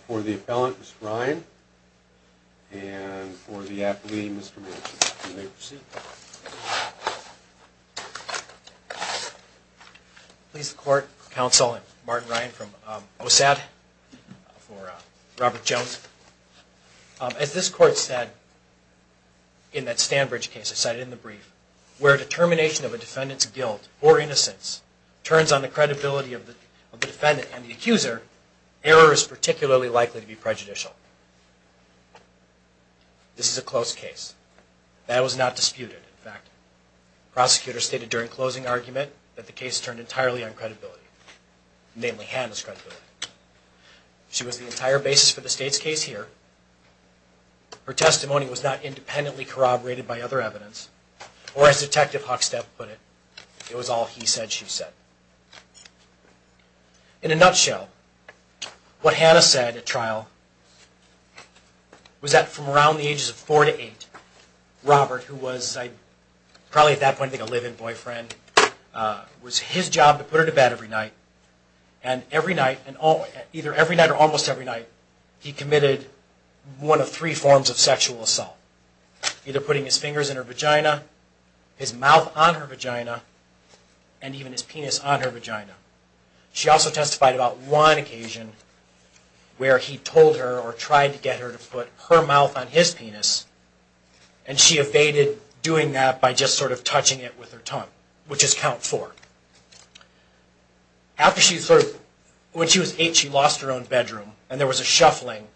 for the appellant, Mr. Ryan, and for the athlete, Mr. Manchin, you may proceed. Please the court, counsel, and Martin Ryan from OSAD for Robert Jones, as this court said in that Stanbridge case I cited in the brief, where a determination of a defendant's guilt or innocence turns on the credibility of the defendant and the accuser, error is particularly likely to be prejudicial. This is a close case. That was not disputed, in fact. Prosecutors stated during closing argument that the case turned entirely on credibility, namely Hannah's credibility. She was the entire basis for the state's case here. Her testimony was not independently corroborated by other evidence, or as Detective Huckstep put it, it was all he said, she said. In a nutshell, what Hannah said at trial was that from around the ages of four to eight, Robert, who was probably at that point a live-in boyfriend, was his job to put her to bed every night, and every night, either every night or almost every night, he committed one of three forms of sexual assault, either putting his fingers in her vagina, his mouth on her vagina, and even his penis on her vagina. She also testified about one occasion where he told her or tried to get her to put her mouth on his penis, and she evaded doing that by just sort of touching it with her tongue, which is count four. When she was eight, she lost her own bedroom, and there was a shuffling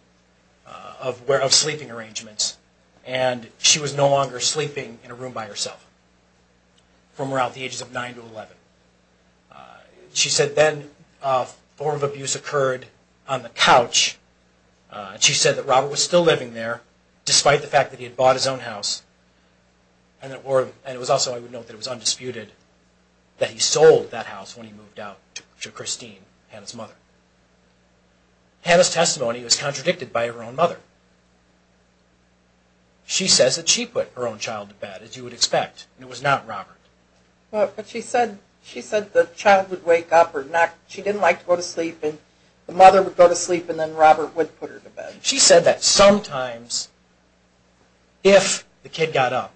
of sleeping arrangements, and she was no longer sleeping in a room by herself from around the ages of nine to eleven. She said then a form of abuse occurred on the couch. She said that despite the fact that he had bought his own house, and it was also, I would note, that it was undisputed that he sold that house when he moved out to Christine, Hannah's mother. Hannah's testimony was contradicted by her own mother. She says that she put her own child to bed, as you would expect, and it was not Robert. But she said the child would wake up, or she didn't like to go to sleep, and the mother would go to sleep, and then Robert would put her to bed. She said that sometimes, if the kid got up,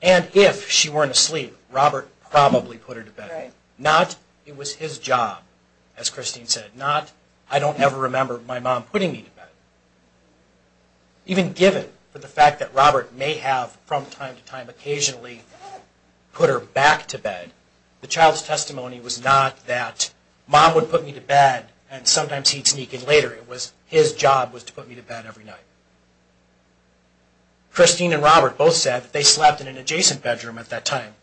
and if she weren't asleep, Robert probably put her to bed. Not, it was his job, as Christine said. Not, I don't ever remember my mom putting me to bed. Even given for the fact that Robert may have from time to time occasionally put her back to bed, the child's testimony was not that mom would put me to bed every night. Christine and Robert both said that they slept in an adjacent bedroom at that time,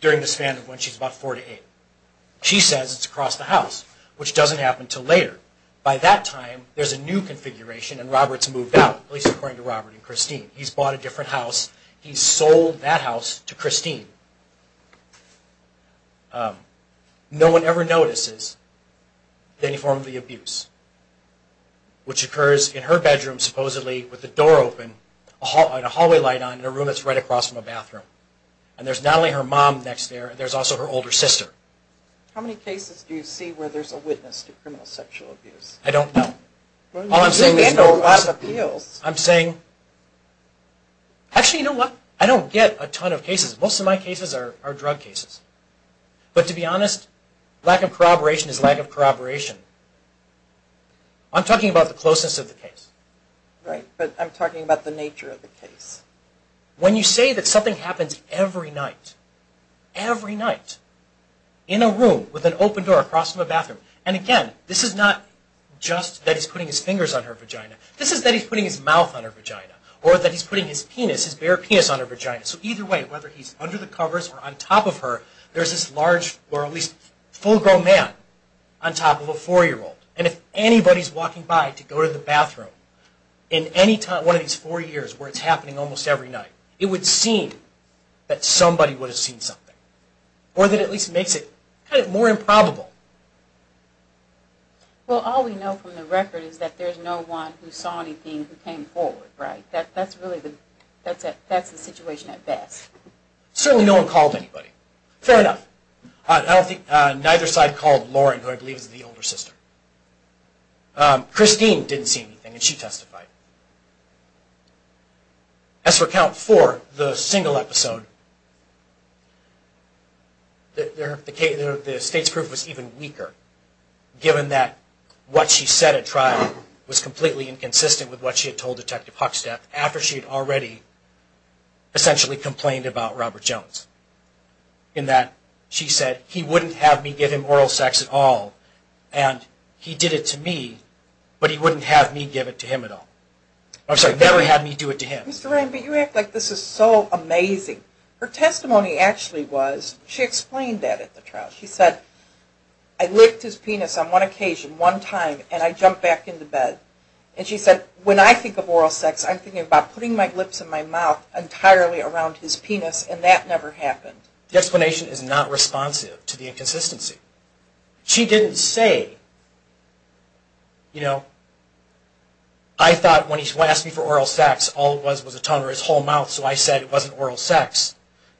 during the span of when she's about four to eight. She says it's across the house, which doesn't happen until later. By that time, there's a new configuration, and Robert's moved out, at least according to Robert and Christine. He's bought a different house. He's sold that house to Christine. No one ever notices any form of the abuse, which occurs in her bedroom, supposedly, with the door open, and a hallway light on, and a room that's right across from a bathroom. And there's not only her mom next there, there's also her older sister. How many cases do you see where there's a witness to criminal sexual abuse? I don't know. Well, you handle a lot of appeals. I'm saying, actually, you know what? I don't get a ton of cases. Most of my cases are drug cases. But to be honest, lack of corroboration is lack of corroboration. I'm talking about the closeness of the case. Right, but I'm talking about the nature of the case. When you say that something happens every night, every night, in a room with an open door across from a bathroom, and again, this is not just that he's putting his fingers on her vagina. This is that he's putting his mouth on her vagina, or that he's putting his penis, his bare penis on her vagina. So either way, whether he's under the covers or on top of her, there's this large, or at least full-grown man on top of a four-year-old. And if anybody's walking by to go to the bathroom in any time, one of these four years where it's happening almost every night, it would seem that somebody would have seen something, or that it at least makes it kind of more improbable. Well, all we know from the record is that there's no one who saw anything who came forward, right? That's the situation at best. Certainly no one called anybody. Fair enough. Neither side called Lauren, who I believe is the older sister. Christine didn't see anything, and she testified. As for count four, the single episode, the state's proof was even weaker, given that what she said at trial was completely inconsistent with what she had told Detective Huckstead after she had already essentially complained about Robert Jones, in that she said, he wouldn't have me give him oral sex at all, and he did it to me, but he wouldn't have me give it to him at all. I'm sorry, never had me do it to him. Mr. Ryan, but you act like this is so amazing. Her testimony actually was, she explained that at the trial. She said, I licked his penis on one occasion, one time, and I jumped back into bed. And she said, when I think of oral sex, I'm thinking about putting my lips in my mouth entirely around his penis, and that never happened. The explanation is not responsive to the inconsistency. She didn't say, you know, I thought when he asked me for oral sex, all it was was a tongue or his whole mouth, so I said it wasn't oral sex,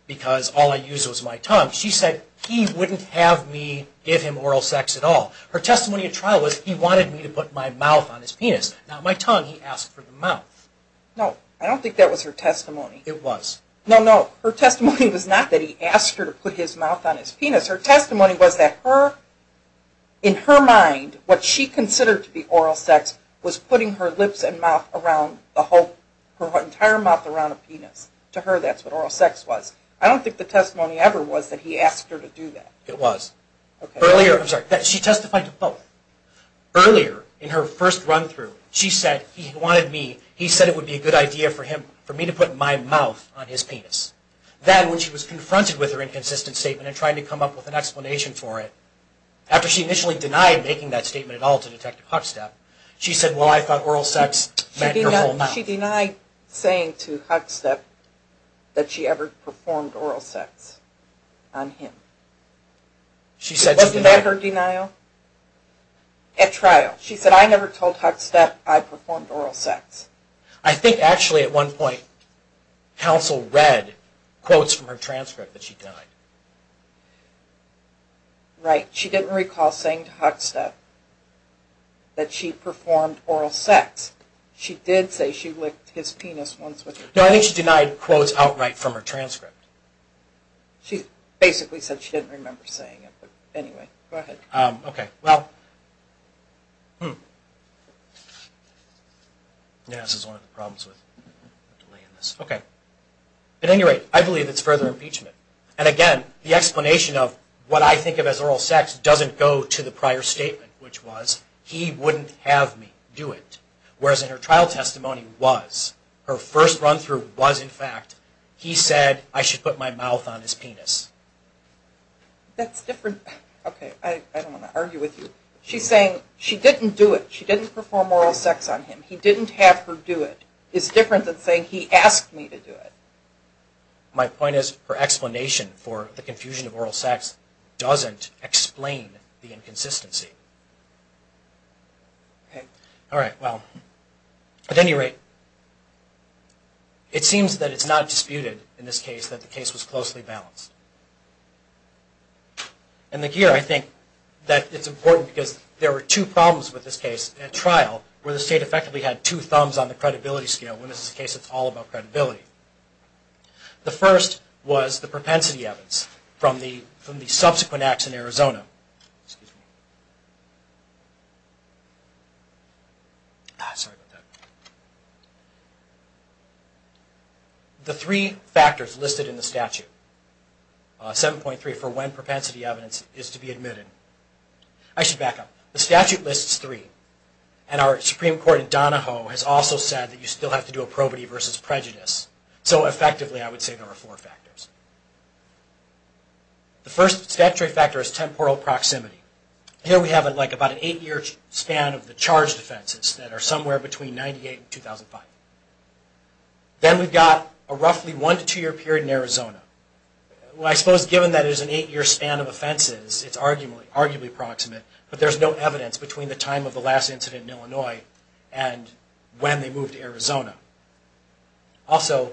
because all I used was my tongue. She said, he wouldn't have me give him oral sex at all. Her testimony at trial was, he wanted me to put my mouth on his penis, not my tongue. He asked for the mouth. No, I don't think that was her testimony. It was. No, no. Her testimony was not that he asked her to put his mouth on his penis. Her testimony was that her, in her mind, what she considered to be oral sex was putting her lips and mouth around the whole, her entire mouth around the penis. To her, that's what oral sex was. I don't think the testimony ever was that he asked her to do that. It was. Okay. Earlier, I'm sorry, she testified to both. Earlier, in her first run through, she said he wanted me, he said it would be a good idea for him, for me to put my mouth on his penis. Then, when she was confronted with her inconsistent statement and trying to come up with an explanation for it, after she initially denied making that statement at all to Detective Huckstepp, she said, well, I thought oral sex meant her whole mouth. She denied saying to Huckstepp that she ever performed oral sex on him. She said she denied it. At trial? At trial. She said, I never told Huckstepp I performed oral sex. I think, actually, at one point, counsel read quotes from her transcript that she denied. Right. She didn't recall saying to Huckstepp that she performed oral sex. She did say she licked his penis once with her tongue. She basically said she didn't remember saying it. But, anyway, go ahead. Okay. Well, this is one of the problems with delaying this. Okay. At any rate, I believe it's further impeachment. And, again, the explanation of what I think of as oral sex doesn't go to the prior statement, which was, he wouldn't have me do it. Whereas in her trial testimony was, her first run through was, in fact, he said I should put my mouth on his penis. That's different. Okay. I don't want to argue with you. She's saying she didn't do it. She didn't perform oral sex on him. He didn't have her do it. It's different than saying he asked me to do it. My point is, her explanation for the confusion of oral sex doesn't explain the inconsistency. Okay. All right. Well, at any rate, it seems that it's not disputed in this case that the case was closely balanced. And here I think that it's important because there were two problems with this case at trial where the state effectively had two thumbs on the credibility scale when this is a case that's all about credibility. The first was the propensity evidence from the subsequent acts in Arizona. The three factors listed in the statute, 7.3 for when propensity evidence is to be admitted. I should back up. The statute lists three. And our Supreme Court in Donahoe has also said that you still have to do a probity versus prejudice. So, effectively, I would say there are four factors. The first statutory factor is temporal proximity. Here we have about an eight-year span of the charged offenses that are somewhere between 1998 and 2005. Then we've got a roughly one to two-year period in Arizona. Well, I suppose given that it is an eight-year span of offenses, it's arguably proximate, but there's no evidence between the time of the last incident in Illinois and when they moved to Arizona. Also,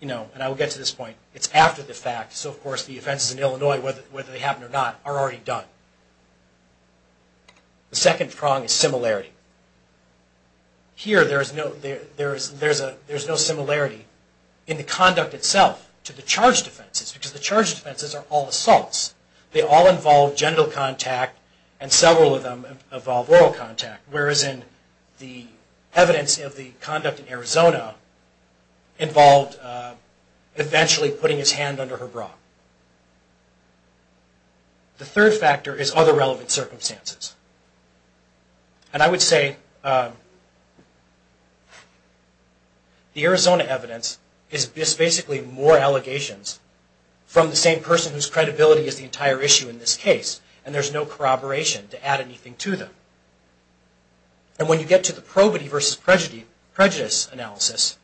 and I will get to this point, it's after the fact, so of course the offenses in Illinois, whether they happened or not, are already done. The second prong is similarity. Here there's no similarity in the conduct itself to the charged offenses because the charged offenses are all assaults. They all involve genital contact and several of them involve oral contact, whereas in the evidence of the conduct in Arizona involved eventually putting his hand under her bra. The third factor is other relevant circumstances. And I would say the Arizona evidence is basically more allegations from the same person whose credibility is the entire issue in this case, and there's no corroboration to add anything to them. And when you get to the probity versus prejudice analysis,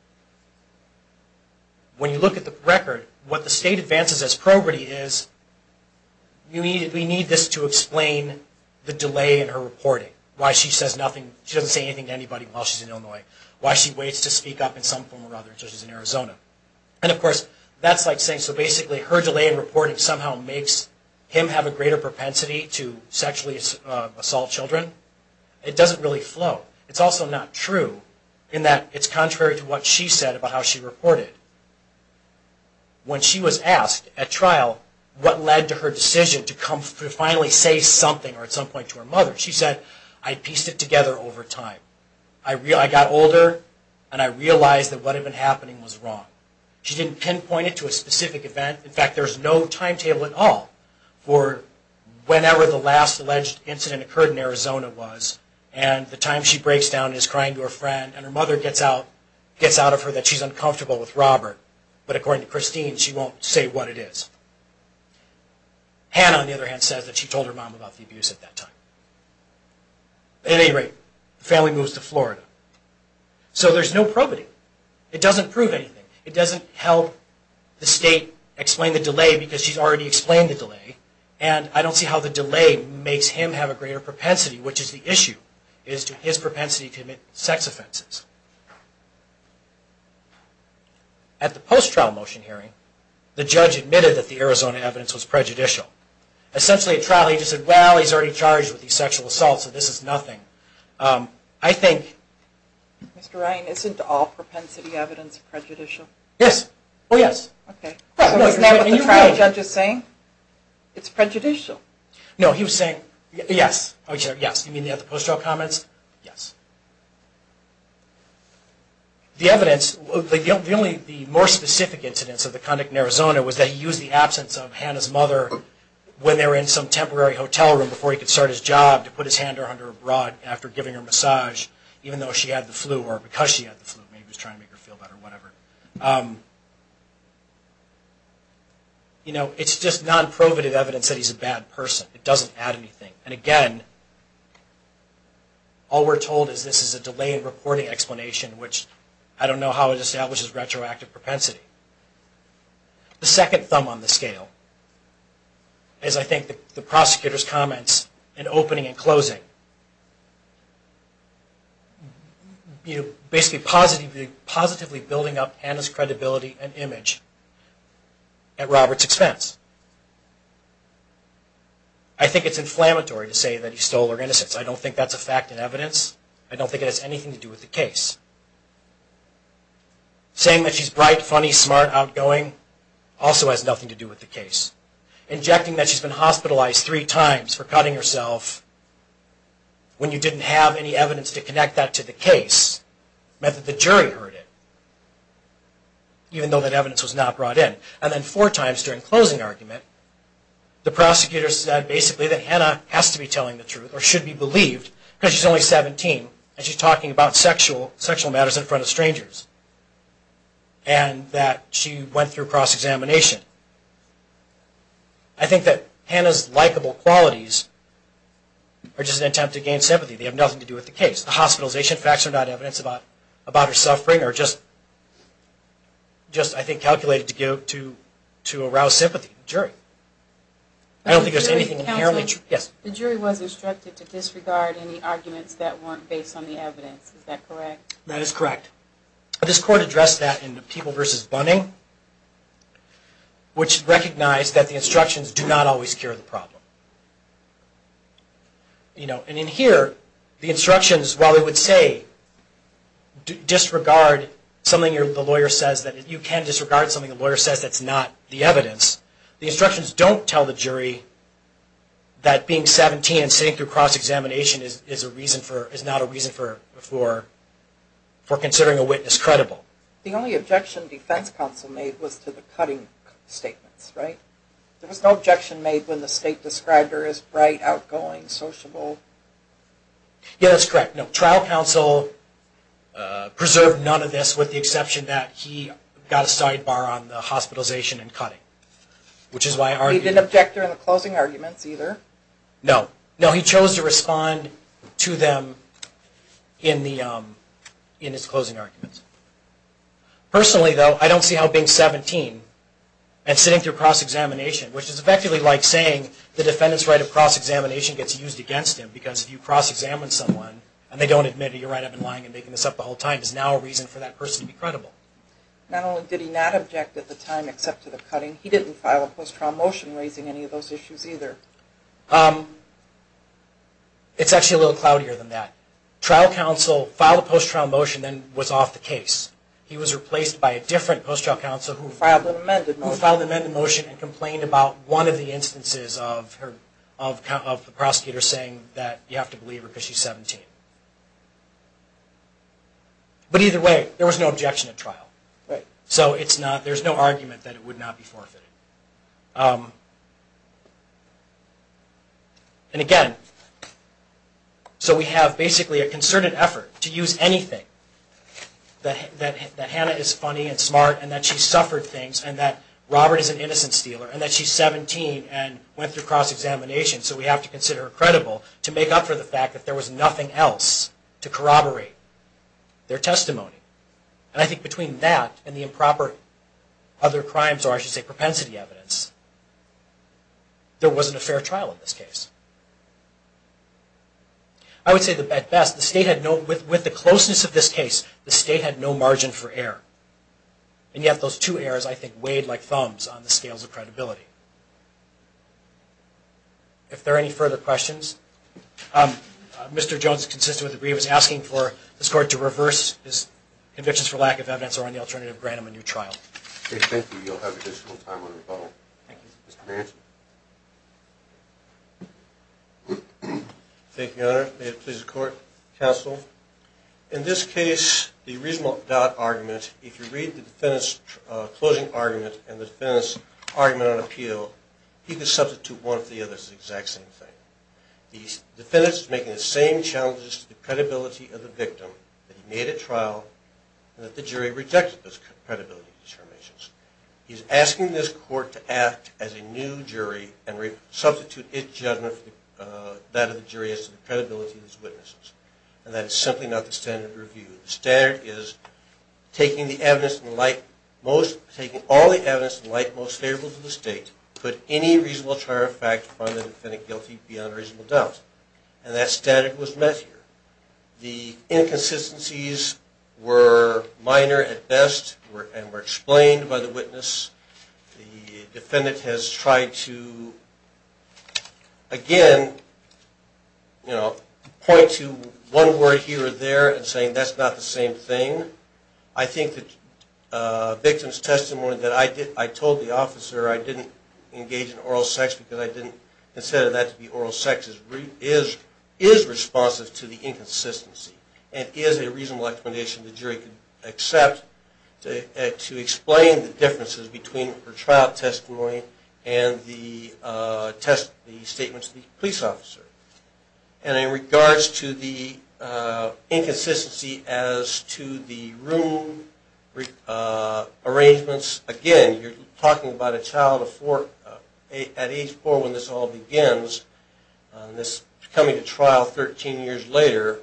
when you look at the record, what the state advances as probity is, we need this to explain the delay in her reporting. Why she doesn't say anything to anybody while she's in Illinois. Why she waits to speak up in some form or other, such as in Arizona. And of course that's like saying, so basically her delay in reporting somehow makes him have a greater propensity to sexually assault children. It doesn't really flow. It's also not true in that it's contrary to what she said about how she reported. When she was asked at trial what led to her decision to finally say something or at some point to her mother, she said, I pieced it together over time. I got older, and I realized that what had been happening was wrong. She didn't pinpoint it to a specific event. In fact, there's no timetable at all for whenever the last alleged incident occurred in Arizona was. And the time she breaks down is crying to her friend, and her mother gets out of her that she's uncomfortable with Robert. But according to Christine, she won't say what it is. Hannah, on the other hand, says that she told her mom about the abuse at that time. At any rate, the family moves to Florida. So there's no probity. It doesn't prove anything. It doesn't help the state explain the delay because she's already explained the delay. And I don't see how the delay makes him have a greater propensity, which is the issue, is to his propensity to commit sex offenses. At the post-trial motion hearing, the judge admitted that the Arizona evidence was prejudicial. Essentially, at trial, he just said, well, he's already charged with these sexual assaults, so this is nothing. I think... Mr. Ryan, isn't all propensity evidence prejudicial? Yes. Oh, yes. Okay. Isn't that what the trial judge is saying? It's prejudicial. No, he was saying, yes. Oh, yes. You mean the other post-trial comments? Yes. The evidence, the only more specific incidence of the conduct in Arizona was that he used the absence of Hannah's mother when they were in some temporary hotel room before he could start his job to put his hand around her abroad after giving her a massage, even though she had the flu or because she had the flu. Maybe he was trying to make her feel better, whatever. You know, it's just non-provative evidence that he's a bad person. It doesn't add anything. And again, all we're told is this is a delayed reporting explanation, which I don't know how it establishes retroactive propensity. The second thumb on the scale is, I think, the prosecutor's comments in opening and closing. Basically, positively building up Hannah's credibility and image at Robert's expense. I think it's inflammatory to say that he stole her innocence. I don't think that's a fact in evidence. I don't think it has anything to do with the case. Saying that she's bright, funny, smart, outgoing also has nothing to do with the case. Injecting that she's been hospitalized three times for cutting herself when you didn't have any evidence to connect that to the case meant that the jury heard it, even though that evidence was not brought in. And then four times during closing argument, the prosecutor said basically that Hannah has to be telling the truth or should be believed because she's only 17 and she's talking about sexual matters in front of strangers and that she went through cross-examination. I think that Hannah's likable qualities are just an attempt to gain sympathy. They have nothing to do with the case. The hospitalization facts are not evidence about her suffering are just, I think, calculated to arouse sympathy in the jury. I don't think there's anything inherently true. Yes? The jury was instructed to disregard any arguments that weren't based on the evidence. Is that correct? That is correct. This court addressed that in People v. Bunning, which recognized that the instructions do not always cure the problem. And in here, the instructions, while they would say disregard something the lawyer says that you can disregard something the lawyer says that's not the evidence, the instructions don't tell the jury that being 17 and sitting through cross-examination is not a reason for considering a witness credible. The only objection defense counsel made was to the cutting statements, right? There was no objection made when the state described her as bright, outgoing, sociable. Yes, that's correct. No, trial counsel preserved none of this with the exception that he got a sidebar on the He didn't object during the closing arguments either? No. No, he chose to respond to them in his closing arguments. Personally, though, I don't see how being 17 and sitting through cross-examination, which is effectively like saying the defendant's right of cross-examination gets used against him because if you cross-examine someone and they don't admit it, you're right, I've been lying and making this up the whole time, is now a reason for that person to be credible. Not only did he not object at the time except to the cutting, he didn't file a post-trial motion raising any of those issues either. It's actually a little cloudier than that. Trial counsel filed a post-trial motion and then was off the case. He was replaced by a different post-trial counsel who filed an amended motion and complained about one of the instances of the prosecutor saying that you have to believe her because she's 17. But either way, there was no objection at trial. So there's no argument that it would not be forfeited. And again, so we have basically a concerted effort to use anything. That Hannah is funny and smart and that she suffered things and that Robert is an innocent stealer and that she's 17 and went through cross-examination so we have to consider her credible to make up for the fact that there was nothing else to corroborate their testimony. And I think between that and the improper other crimes or I should say propensity evidence, there wasn't a fair trial in this case. I would say at best, with the closeness of this case, the state had no margin for error. And yet those two errors, I think, weighed like thumbs on the scales of credibility. If there are any further questions? Mr. Jones, consistent with the brief, is asking for this court to reverse his convictions for lack of evidence or on the alternative grant him a new trial. Okay, thank you. You'll have additional time on the rebuttal. Thank you. Thank you, Your Honor. May it please the Court. Counsel, in this case, the reasonable doubt argument, if you read the defendant's closing argument and the defendant's argument on appeal, he could substitute one or the other. It's the exact same thing. The defendant's making the same challenges to the credibility of the victim that he made at trial and that the jury rejected those credibility determinations. He's asking this court to act as a new jury and substitute its judgment for that of the jury as to the credibility of his witnesses. And that is simply not the standard of review. The standard is taking all the evidence in the light most favorable to the state, put any reasonable trial fact upon the defendant guilty beyond reasonable doubt. And that standard was met here. The inconsistencies were minor at best and were explained by the witness. The defendant has tried to, again, you know, point to one word here or there and saying that's not the same thing. In addition, I think the victim's testimony that I told the officer I didn't engage in oral sex because I didn't consider that to be oral sex is responsive to the inconsistency and is a reasonable explanation the jury could accept to explain the differences between her trial testimony and the statements of the police officer. And in regards to the inconsistency as to the room arrangements, again, you're talking about a child at age four when this all begins, this coming to trial 13 years later,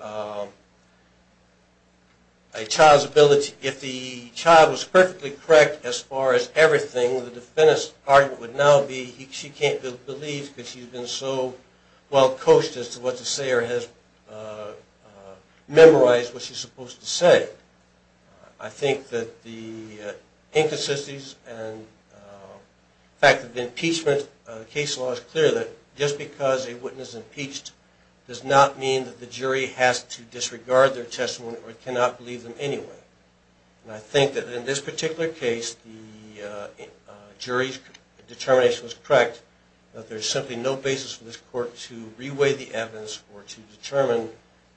a child's ability, if the child was perfectly correct as far as everything, the defendant's argument would now be she can't believe because she's been so well coached as to what to say or has memorized what she's supposed to say. I think that the inconsistencies and the fact that the impeachment case law is clear that just because a witness is impeached does not mean that the jury has to disregard their testimony or cannot believe them anyway. And I think that in this particular case, the jury's determination was correct that there's simply no basis for this court to reweigh the evidence or to determine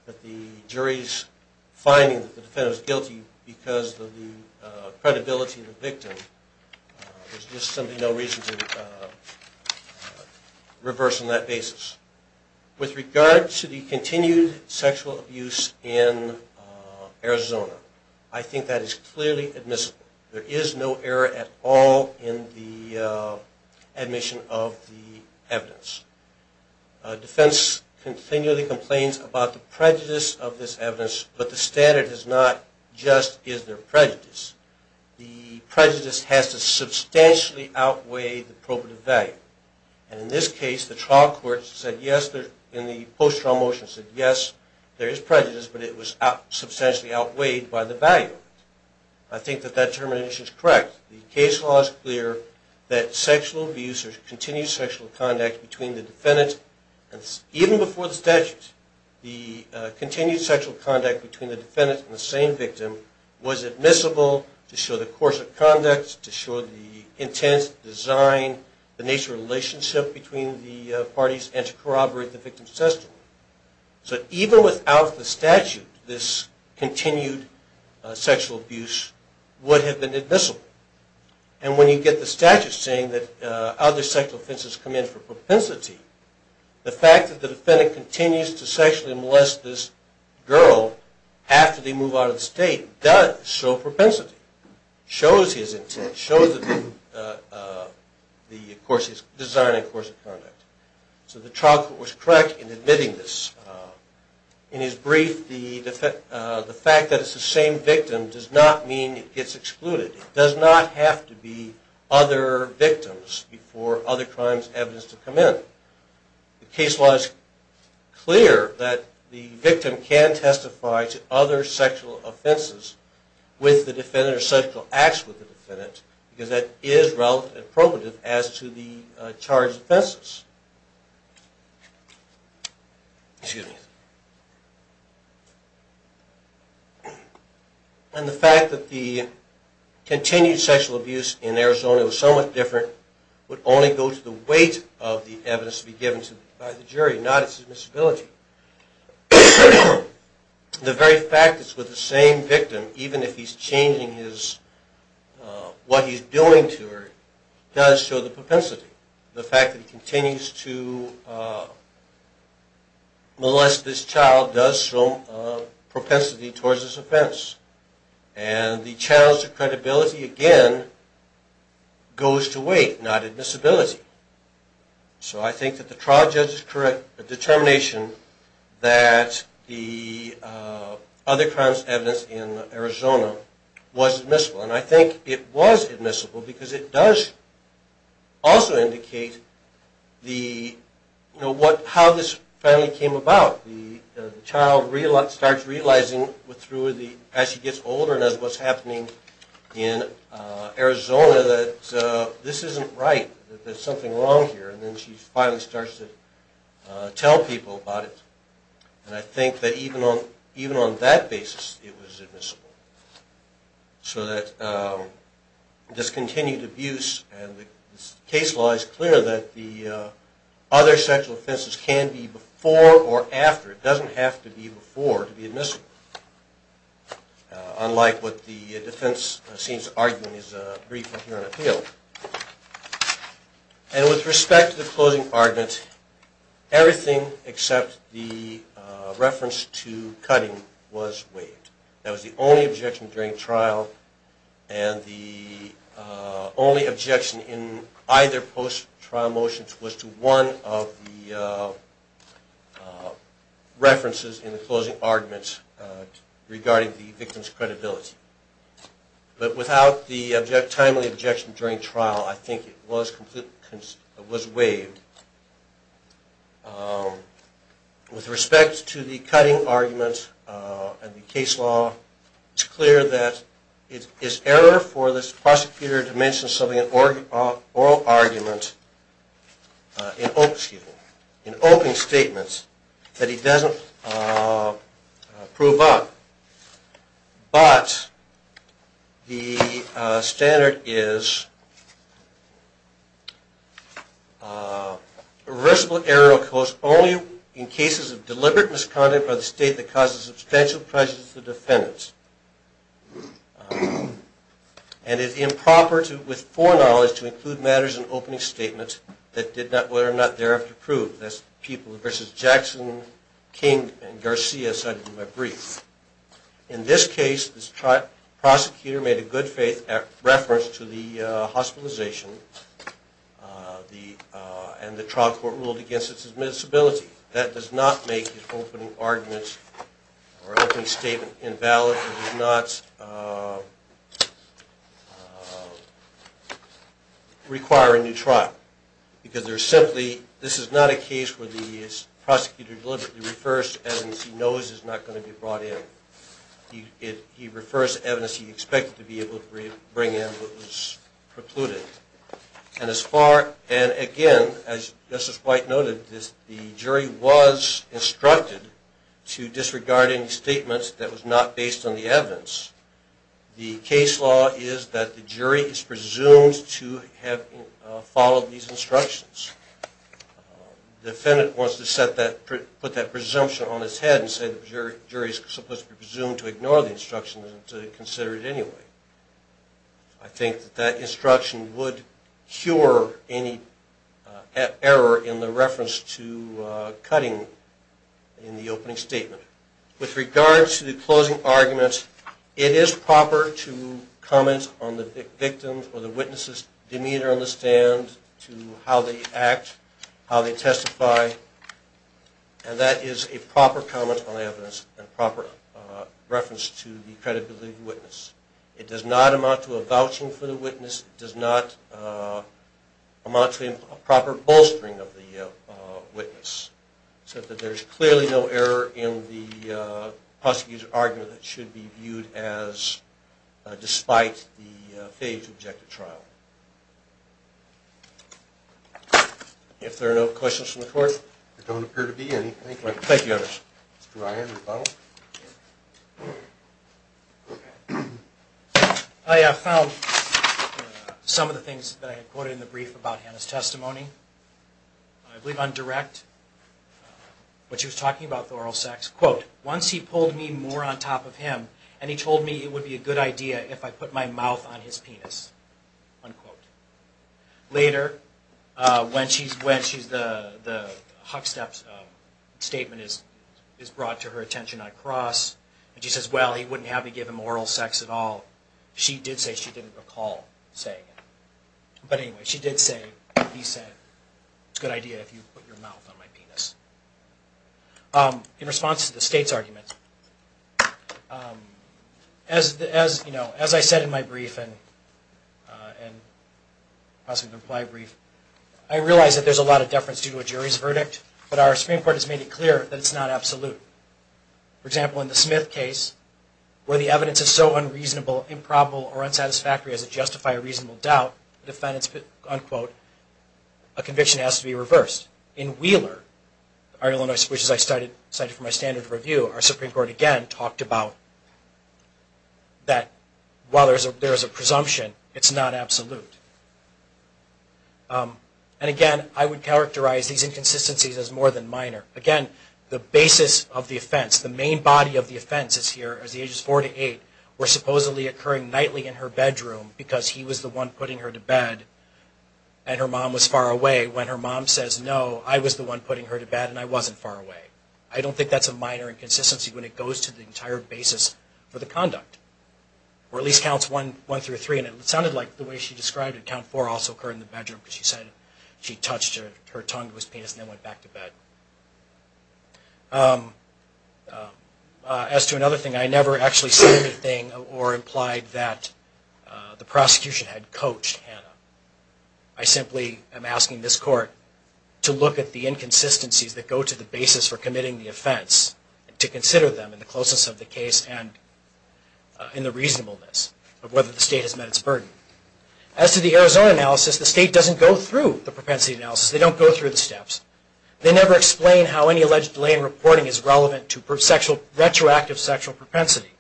that the jury's finding that the defendant is guilty because of the credibility of the victim. There's just simply no reason to reverse on that basis. With regard to the continued sexual abuse in Arizona, I think that is clearly admissible. There is no error at all in the admission of the evidence. Defense continually complains about the prejudice of this evidence, but the standard is not just is there prejudice. The prejudice has to substantially outweigh the probative value. And in this case, the trial court said yes, in the post-trial motion, said yes, there is prejudice, but it was substantially outweighed by the value. I think that that determination is correct. The case law is clear that sexual abuse or continued sexual conduct between the defendant and even before the statute, the continued sexual conduct between the defendant and the same victim was admissible to show the course of conduct, to show the intense design, the intense relationship between the parties, and to corroborate the victim's testimony. So even without the statute, this continued sexual abuse would have been admissible. And when you get the statute saying that other sexual offenses come in for propensity, the fact that the defendant continues to sexually molest this girl after they move out of the course of conduct. So the trial court was correct in admitting this. In his brief, the fact that it's the same victim does not mean it gets excluded. It does not have to be other victims for other crimes evidence to come in. The case law is clear that the victim can testify to other sexual offenses with the same charge of offenses. And the fact that the continued sexual abuse in Arizona was somewhat different would only go to the weight of the evidence to be given by the jury, not its admissibility. The very fact that it's with the same victim, even if he's changing what he's doing to her, does show the propensity. The fact that he continues to molest this child does show propensity towards this offense. And the challenge of credibility, again, goes to weight, not admissibility. So I think that the trial judge's determination that the other crimes evidence in Arizona was admissible. And I think it was admissible because it does also indicate how this family came about. The child starts realizing as she gets older and knows what's happening in Arizona that this isn't right, that there's something wrong here. And then she finally starts to tell people about it. And I think that even on that basis, it was admissible. So that discontinued abuse and the case law is clear that the other sexual offenses can be before or after. It doesn't have to be before to be admissible, unlike what the defense seems to argue in his brief here on appeal. And with respect to the closing argument, everything except the reference to cutting was waived. That was the only objection during trial. And the only objection in either post-trial motion was to one of the references in the closing argument regarding the victim's credibility. But without the timely objection during trial, I think it was waived. With respect to the cutting argument and the case law, it's clear that it is error for this prosecutor to mention something, an oral argument, an open statement that he doesn't prove up. But the standard is reversible error occurs only in cases of deliberate misconduct by the state that causes substantial prejudice to the defendants. And it's improper with foreknowledge to include matters in opening statements that are not there to prove. That's people such as Jackson, King, and Garcia cited in my brief. In this case, the prosecutor made a good faith reference to the hospitalization and the trial court ruled against its admissibility. That does not make his opening argument or opening statement invalid. It does not require a new trial. Because there's simply, this is not a case where the prosecutor deliberately refers to evidence he knows is not going to be brought in. He refers to evidence he expected to be able to bring in but was precluded. And as far, and again, as Justice White noted, the jury was instructed to disregard any statements that was not based on the evidence. The case law is that the jury is presumed to have followed these instructions. The defendant wants to put that presumption on his head and say the jury is supposed to be presumed to ignore the instructions and to consider it anyway. I think that that instruction would cure any error in the reference to cutting in the opening statement. With regard to the closing argument, it is proper to comment on the victim's or the witness's demeanor on the stand, to how they act, how they testify, and that is a proper comment on the evidence and proper reference to the credibility of the witness. It does not amount to a vouching for the witness. It does not amount to a proper bolstering of the witness. There is clearly no error in the prosecutor's argument that should be viewed as despite the failure to object to trial. If there are no questions from the court. There don't appear to be any. Thank you. Thank you, Your Honor. I found some of the things that I had quoted in the brief about Hannah's testimony. I believe on direct, what she was talking about with oral sex. Quote, once he pulled me more on top of him and he told me it would be a good idea if I put my mouth on his penis. Unquote. Later, when the Hucksteps statement is brought to her attention on cross and she says, well, he wouldn't have me give him oral sex at all. She did say she didn't recall saying it. But anyway, she did say, he said, it's a good idea if you put your mouth on my penis. In response to the state's argument, as I said in my brief and possibly the reply brief, I realize that there's a lot of deference due to a jury's verdict, but our Supreme Court has made it clear that it's not absolute. For example, in the Smith case, where the evidence is so unreasonable, improbable, or unquote, a conviction has to be reversed. In Wheeler, which I cited for my standard review, our Supreme Court again talked about that while there is a presumption, it's not absolute. And again, I would characterize these inconsistencies as more than minor. Again, the basis of the offense, the main body of the offense is here, as the ages four to eight, were supposedly occurring nightly in her bedroom because he was the one putting her to bed and her mom was far away. When her mom says no, I was the one putting her to bed and I wasn't far away. I don't think that's a minor inconsistency when it goes to the entire basis for the conduct. Or at least counts one through three. And it sounded like the way she described it, count four also occurred in the bedroom because she said she touched her tongue to his penis and then went back to bed. As to another thing, I never actually said anything or implied that the prosecution had coached Hannah. I simply am asking this court to look at the inconsistencies that go to the basis for committing the offense, to consider them in the closeness of the case and in the reasonableness of whether the state has met its burden. As to the Arizona analysis, the state doesn't go through the propensity analysis. They don't go through the steps. They never explain how any alleged delay in reporting is relevant to retroactive sexual propensity.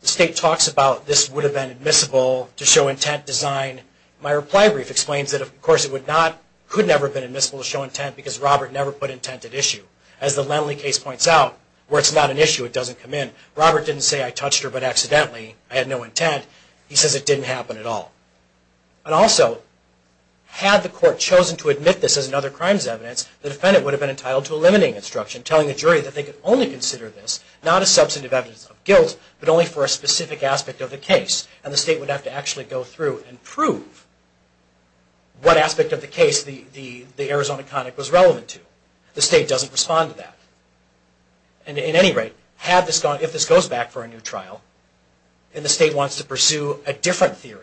The state talks about this would have been admissible to show intent design. My reply brief explains that, of course, it could never have been admissible to show intent because Robert never put intent at issue. As the Lenly case points out, where it's not an issue, it doesn't come in. Robert didn't say, I touched her but accidentally. I had no intent. He says it didn't happen at all. Also, had the court chosen to admit this as another crime's evidence, the defendant would have been entitled to a limiting instruction, telling the jury that they could only consider this, not as substantive evidence of guilt, but only for a specific aspect of the case. The state would have to actually go through and prove what aspect of the case the Arizona conic was relevant to. The state doesn't respond to that. In any rate, if this goes back for a new trial and the state wants to pursue a new trial,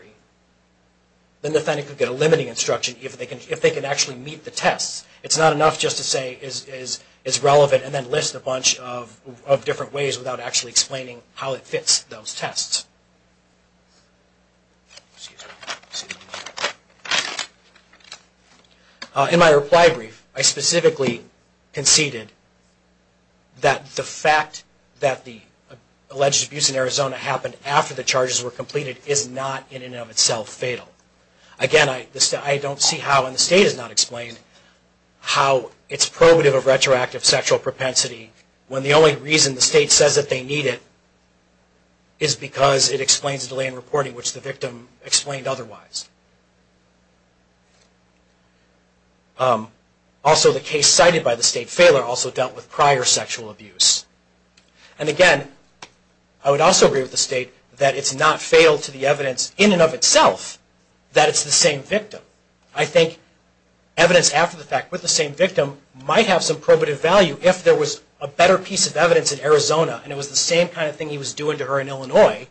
then the defendant could get a limiting instruction if they can actually meet the tests. It's not enough just to say it's relevant and then list a bunch of different ways without actually explaining how it fits those tests. In my reply brief, I specifically conceded that the fact that the alleged abuse in Again, I don't see how, and the state has not explained, how it's probative of retroactive sexual propensity when the only reason the state says that they need it is because it explains the delay in reporting, which the victim explained otherwise. Also, the case cited by the state, failure, also dealt with prior sexual abuse. And again, I would also agree with the state that it's not fatal to the evidence in and of itself that it's the same victim. I think evidence after the fact with the same victim might have some probative value if there was a better piece of evidence in Arizona and it was the same kind of thing he was doing to her in Illinois,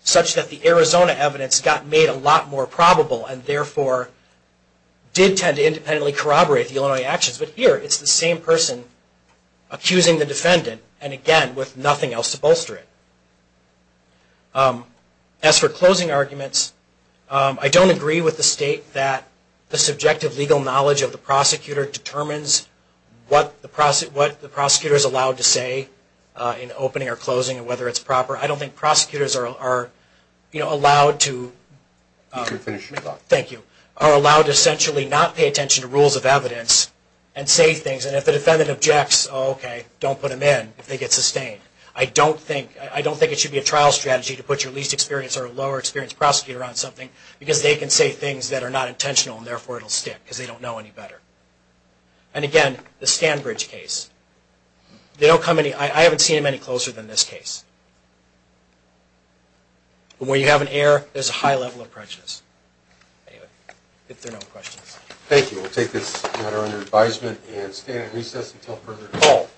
such that the Arizona evidence got made a lot more probable and therefore did tend to independently corroborate the Illinois actions. But here, it's the same person accusing the defendant, and again, with nothing else to bolster it. As for closing arguments, I don't agree with the state that the subjective legal knowledge of the prosecutor determines what the prosecutor is allowed to say in opening or closing and whether it's proper. I don't think prosecutors are allowed to essentially not pay attention to rules of evidence and say things. And if the defendant objects, okay, don't put them in if they get sustained. I don't think it should be a trial strategy to put your least experience or lower experience prosecutor on something because they can say things that are not intentional and therefore it will stick because they don't know any better. And again, the Stanbridge case. I haven't seen them any closer than this case. When you have an error, there's a high level of prejudice. Anyway, if there are no questions. Thank you. We'll take this matter under advisement and stand at recess until further discussion. Thank you.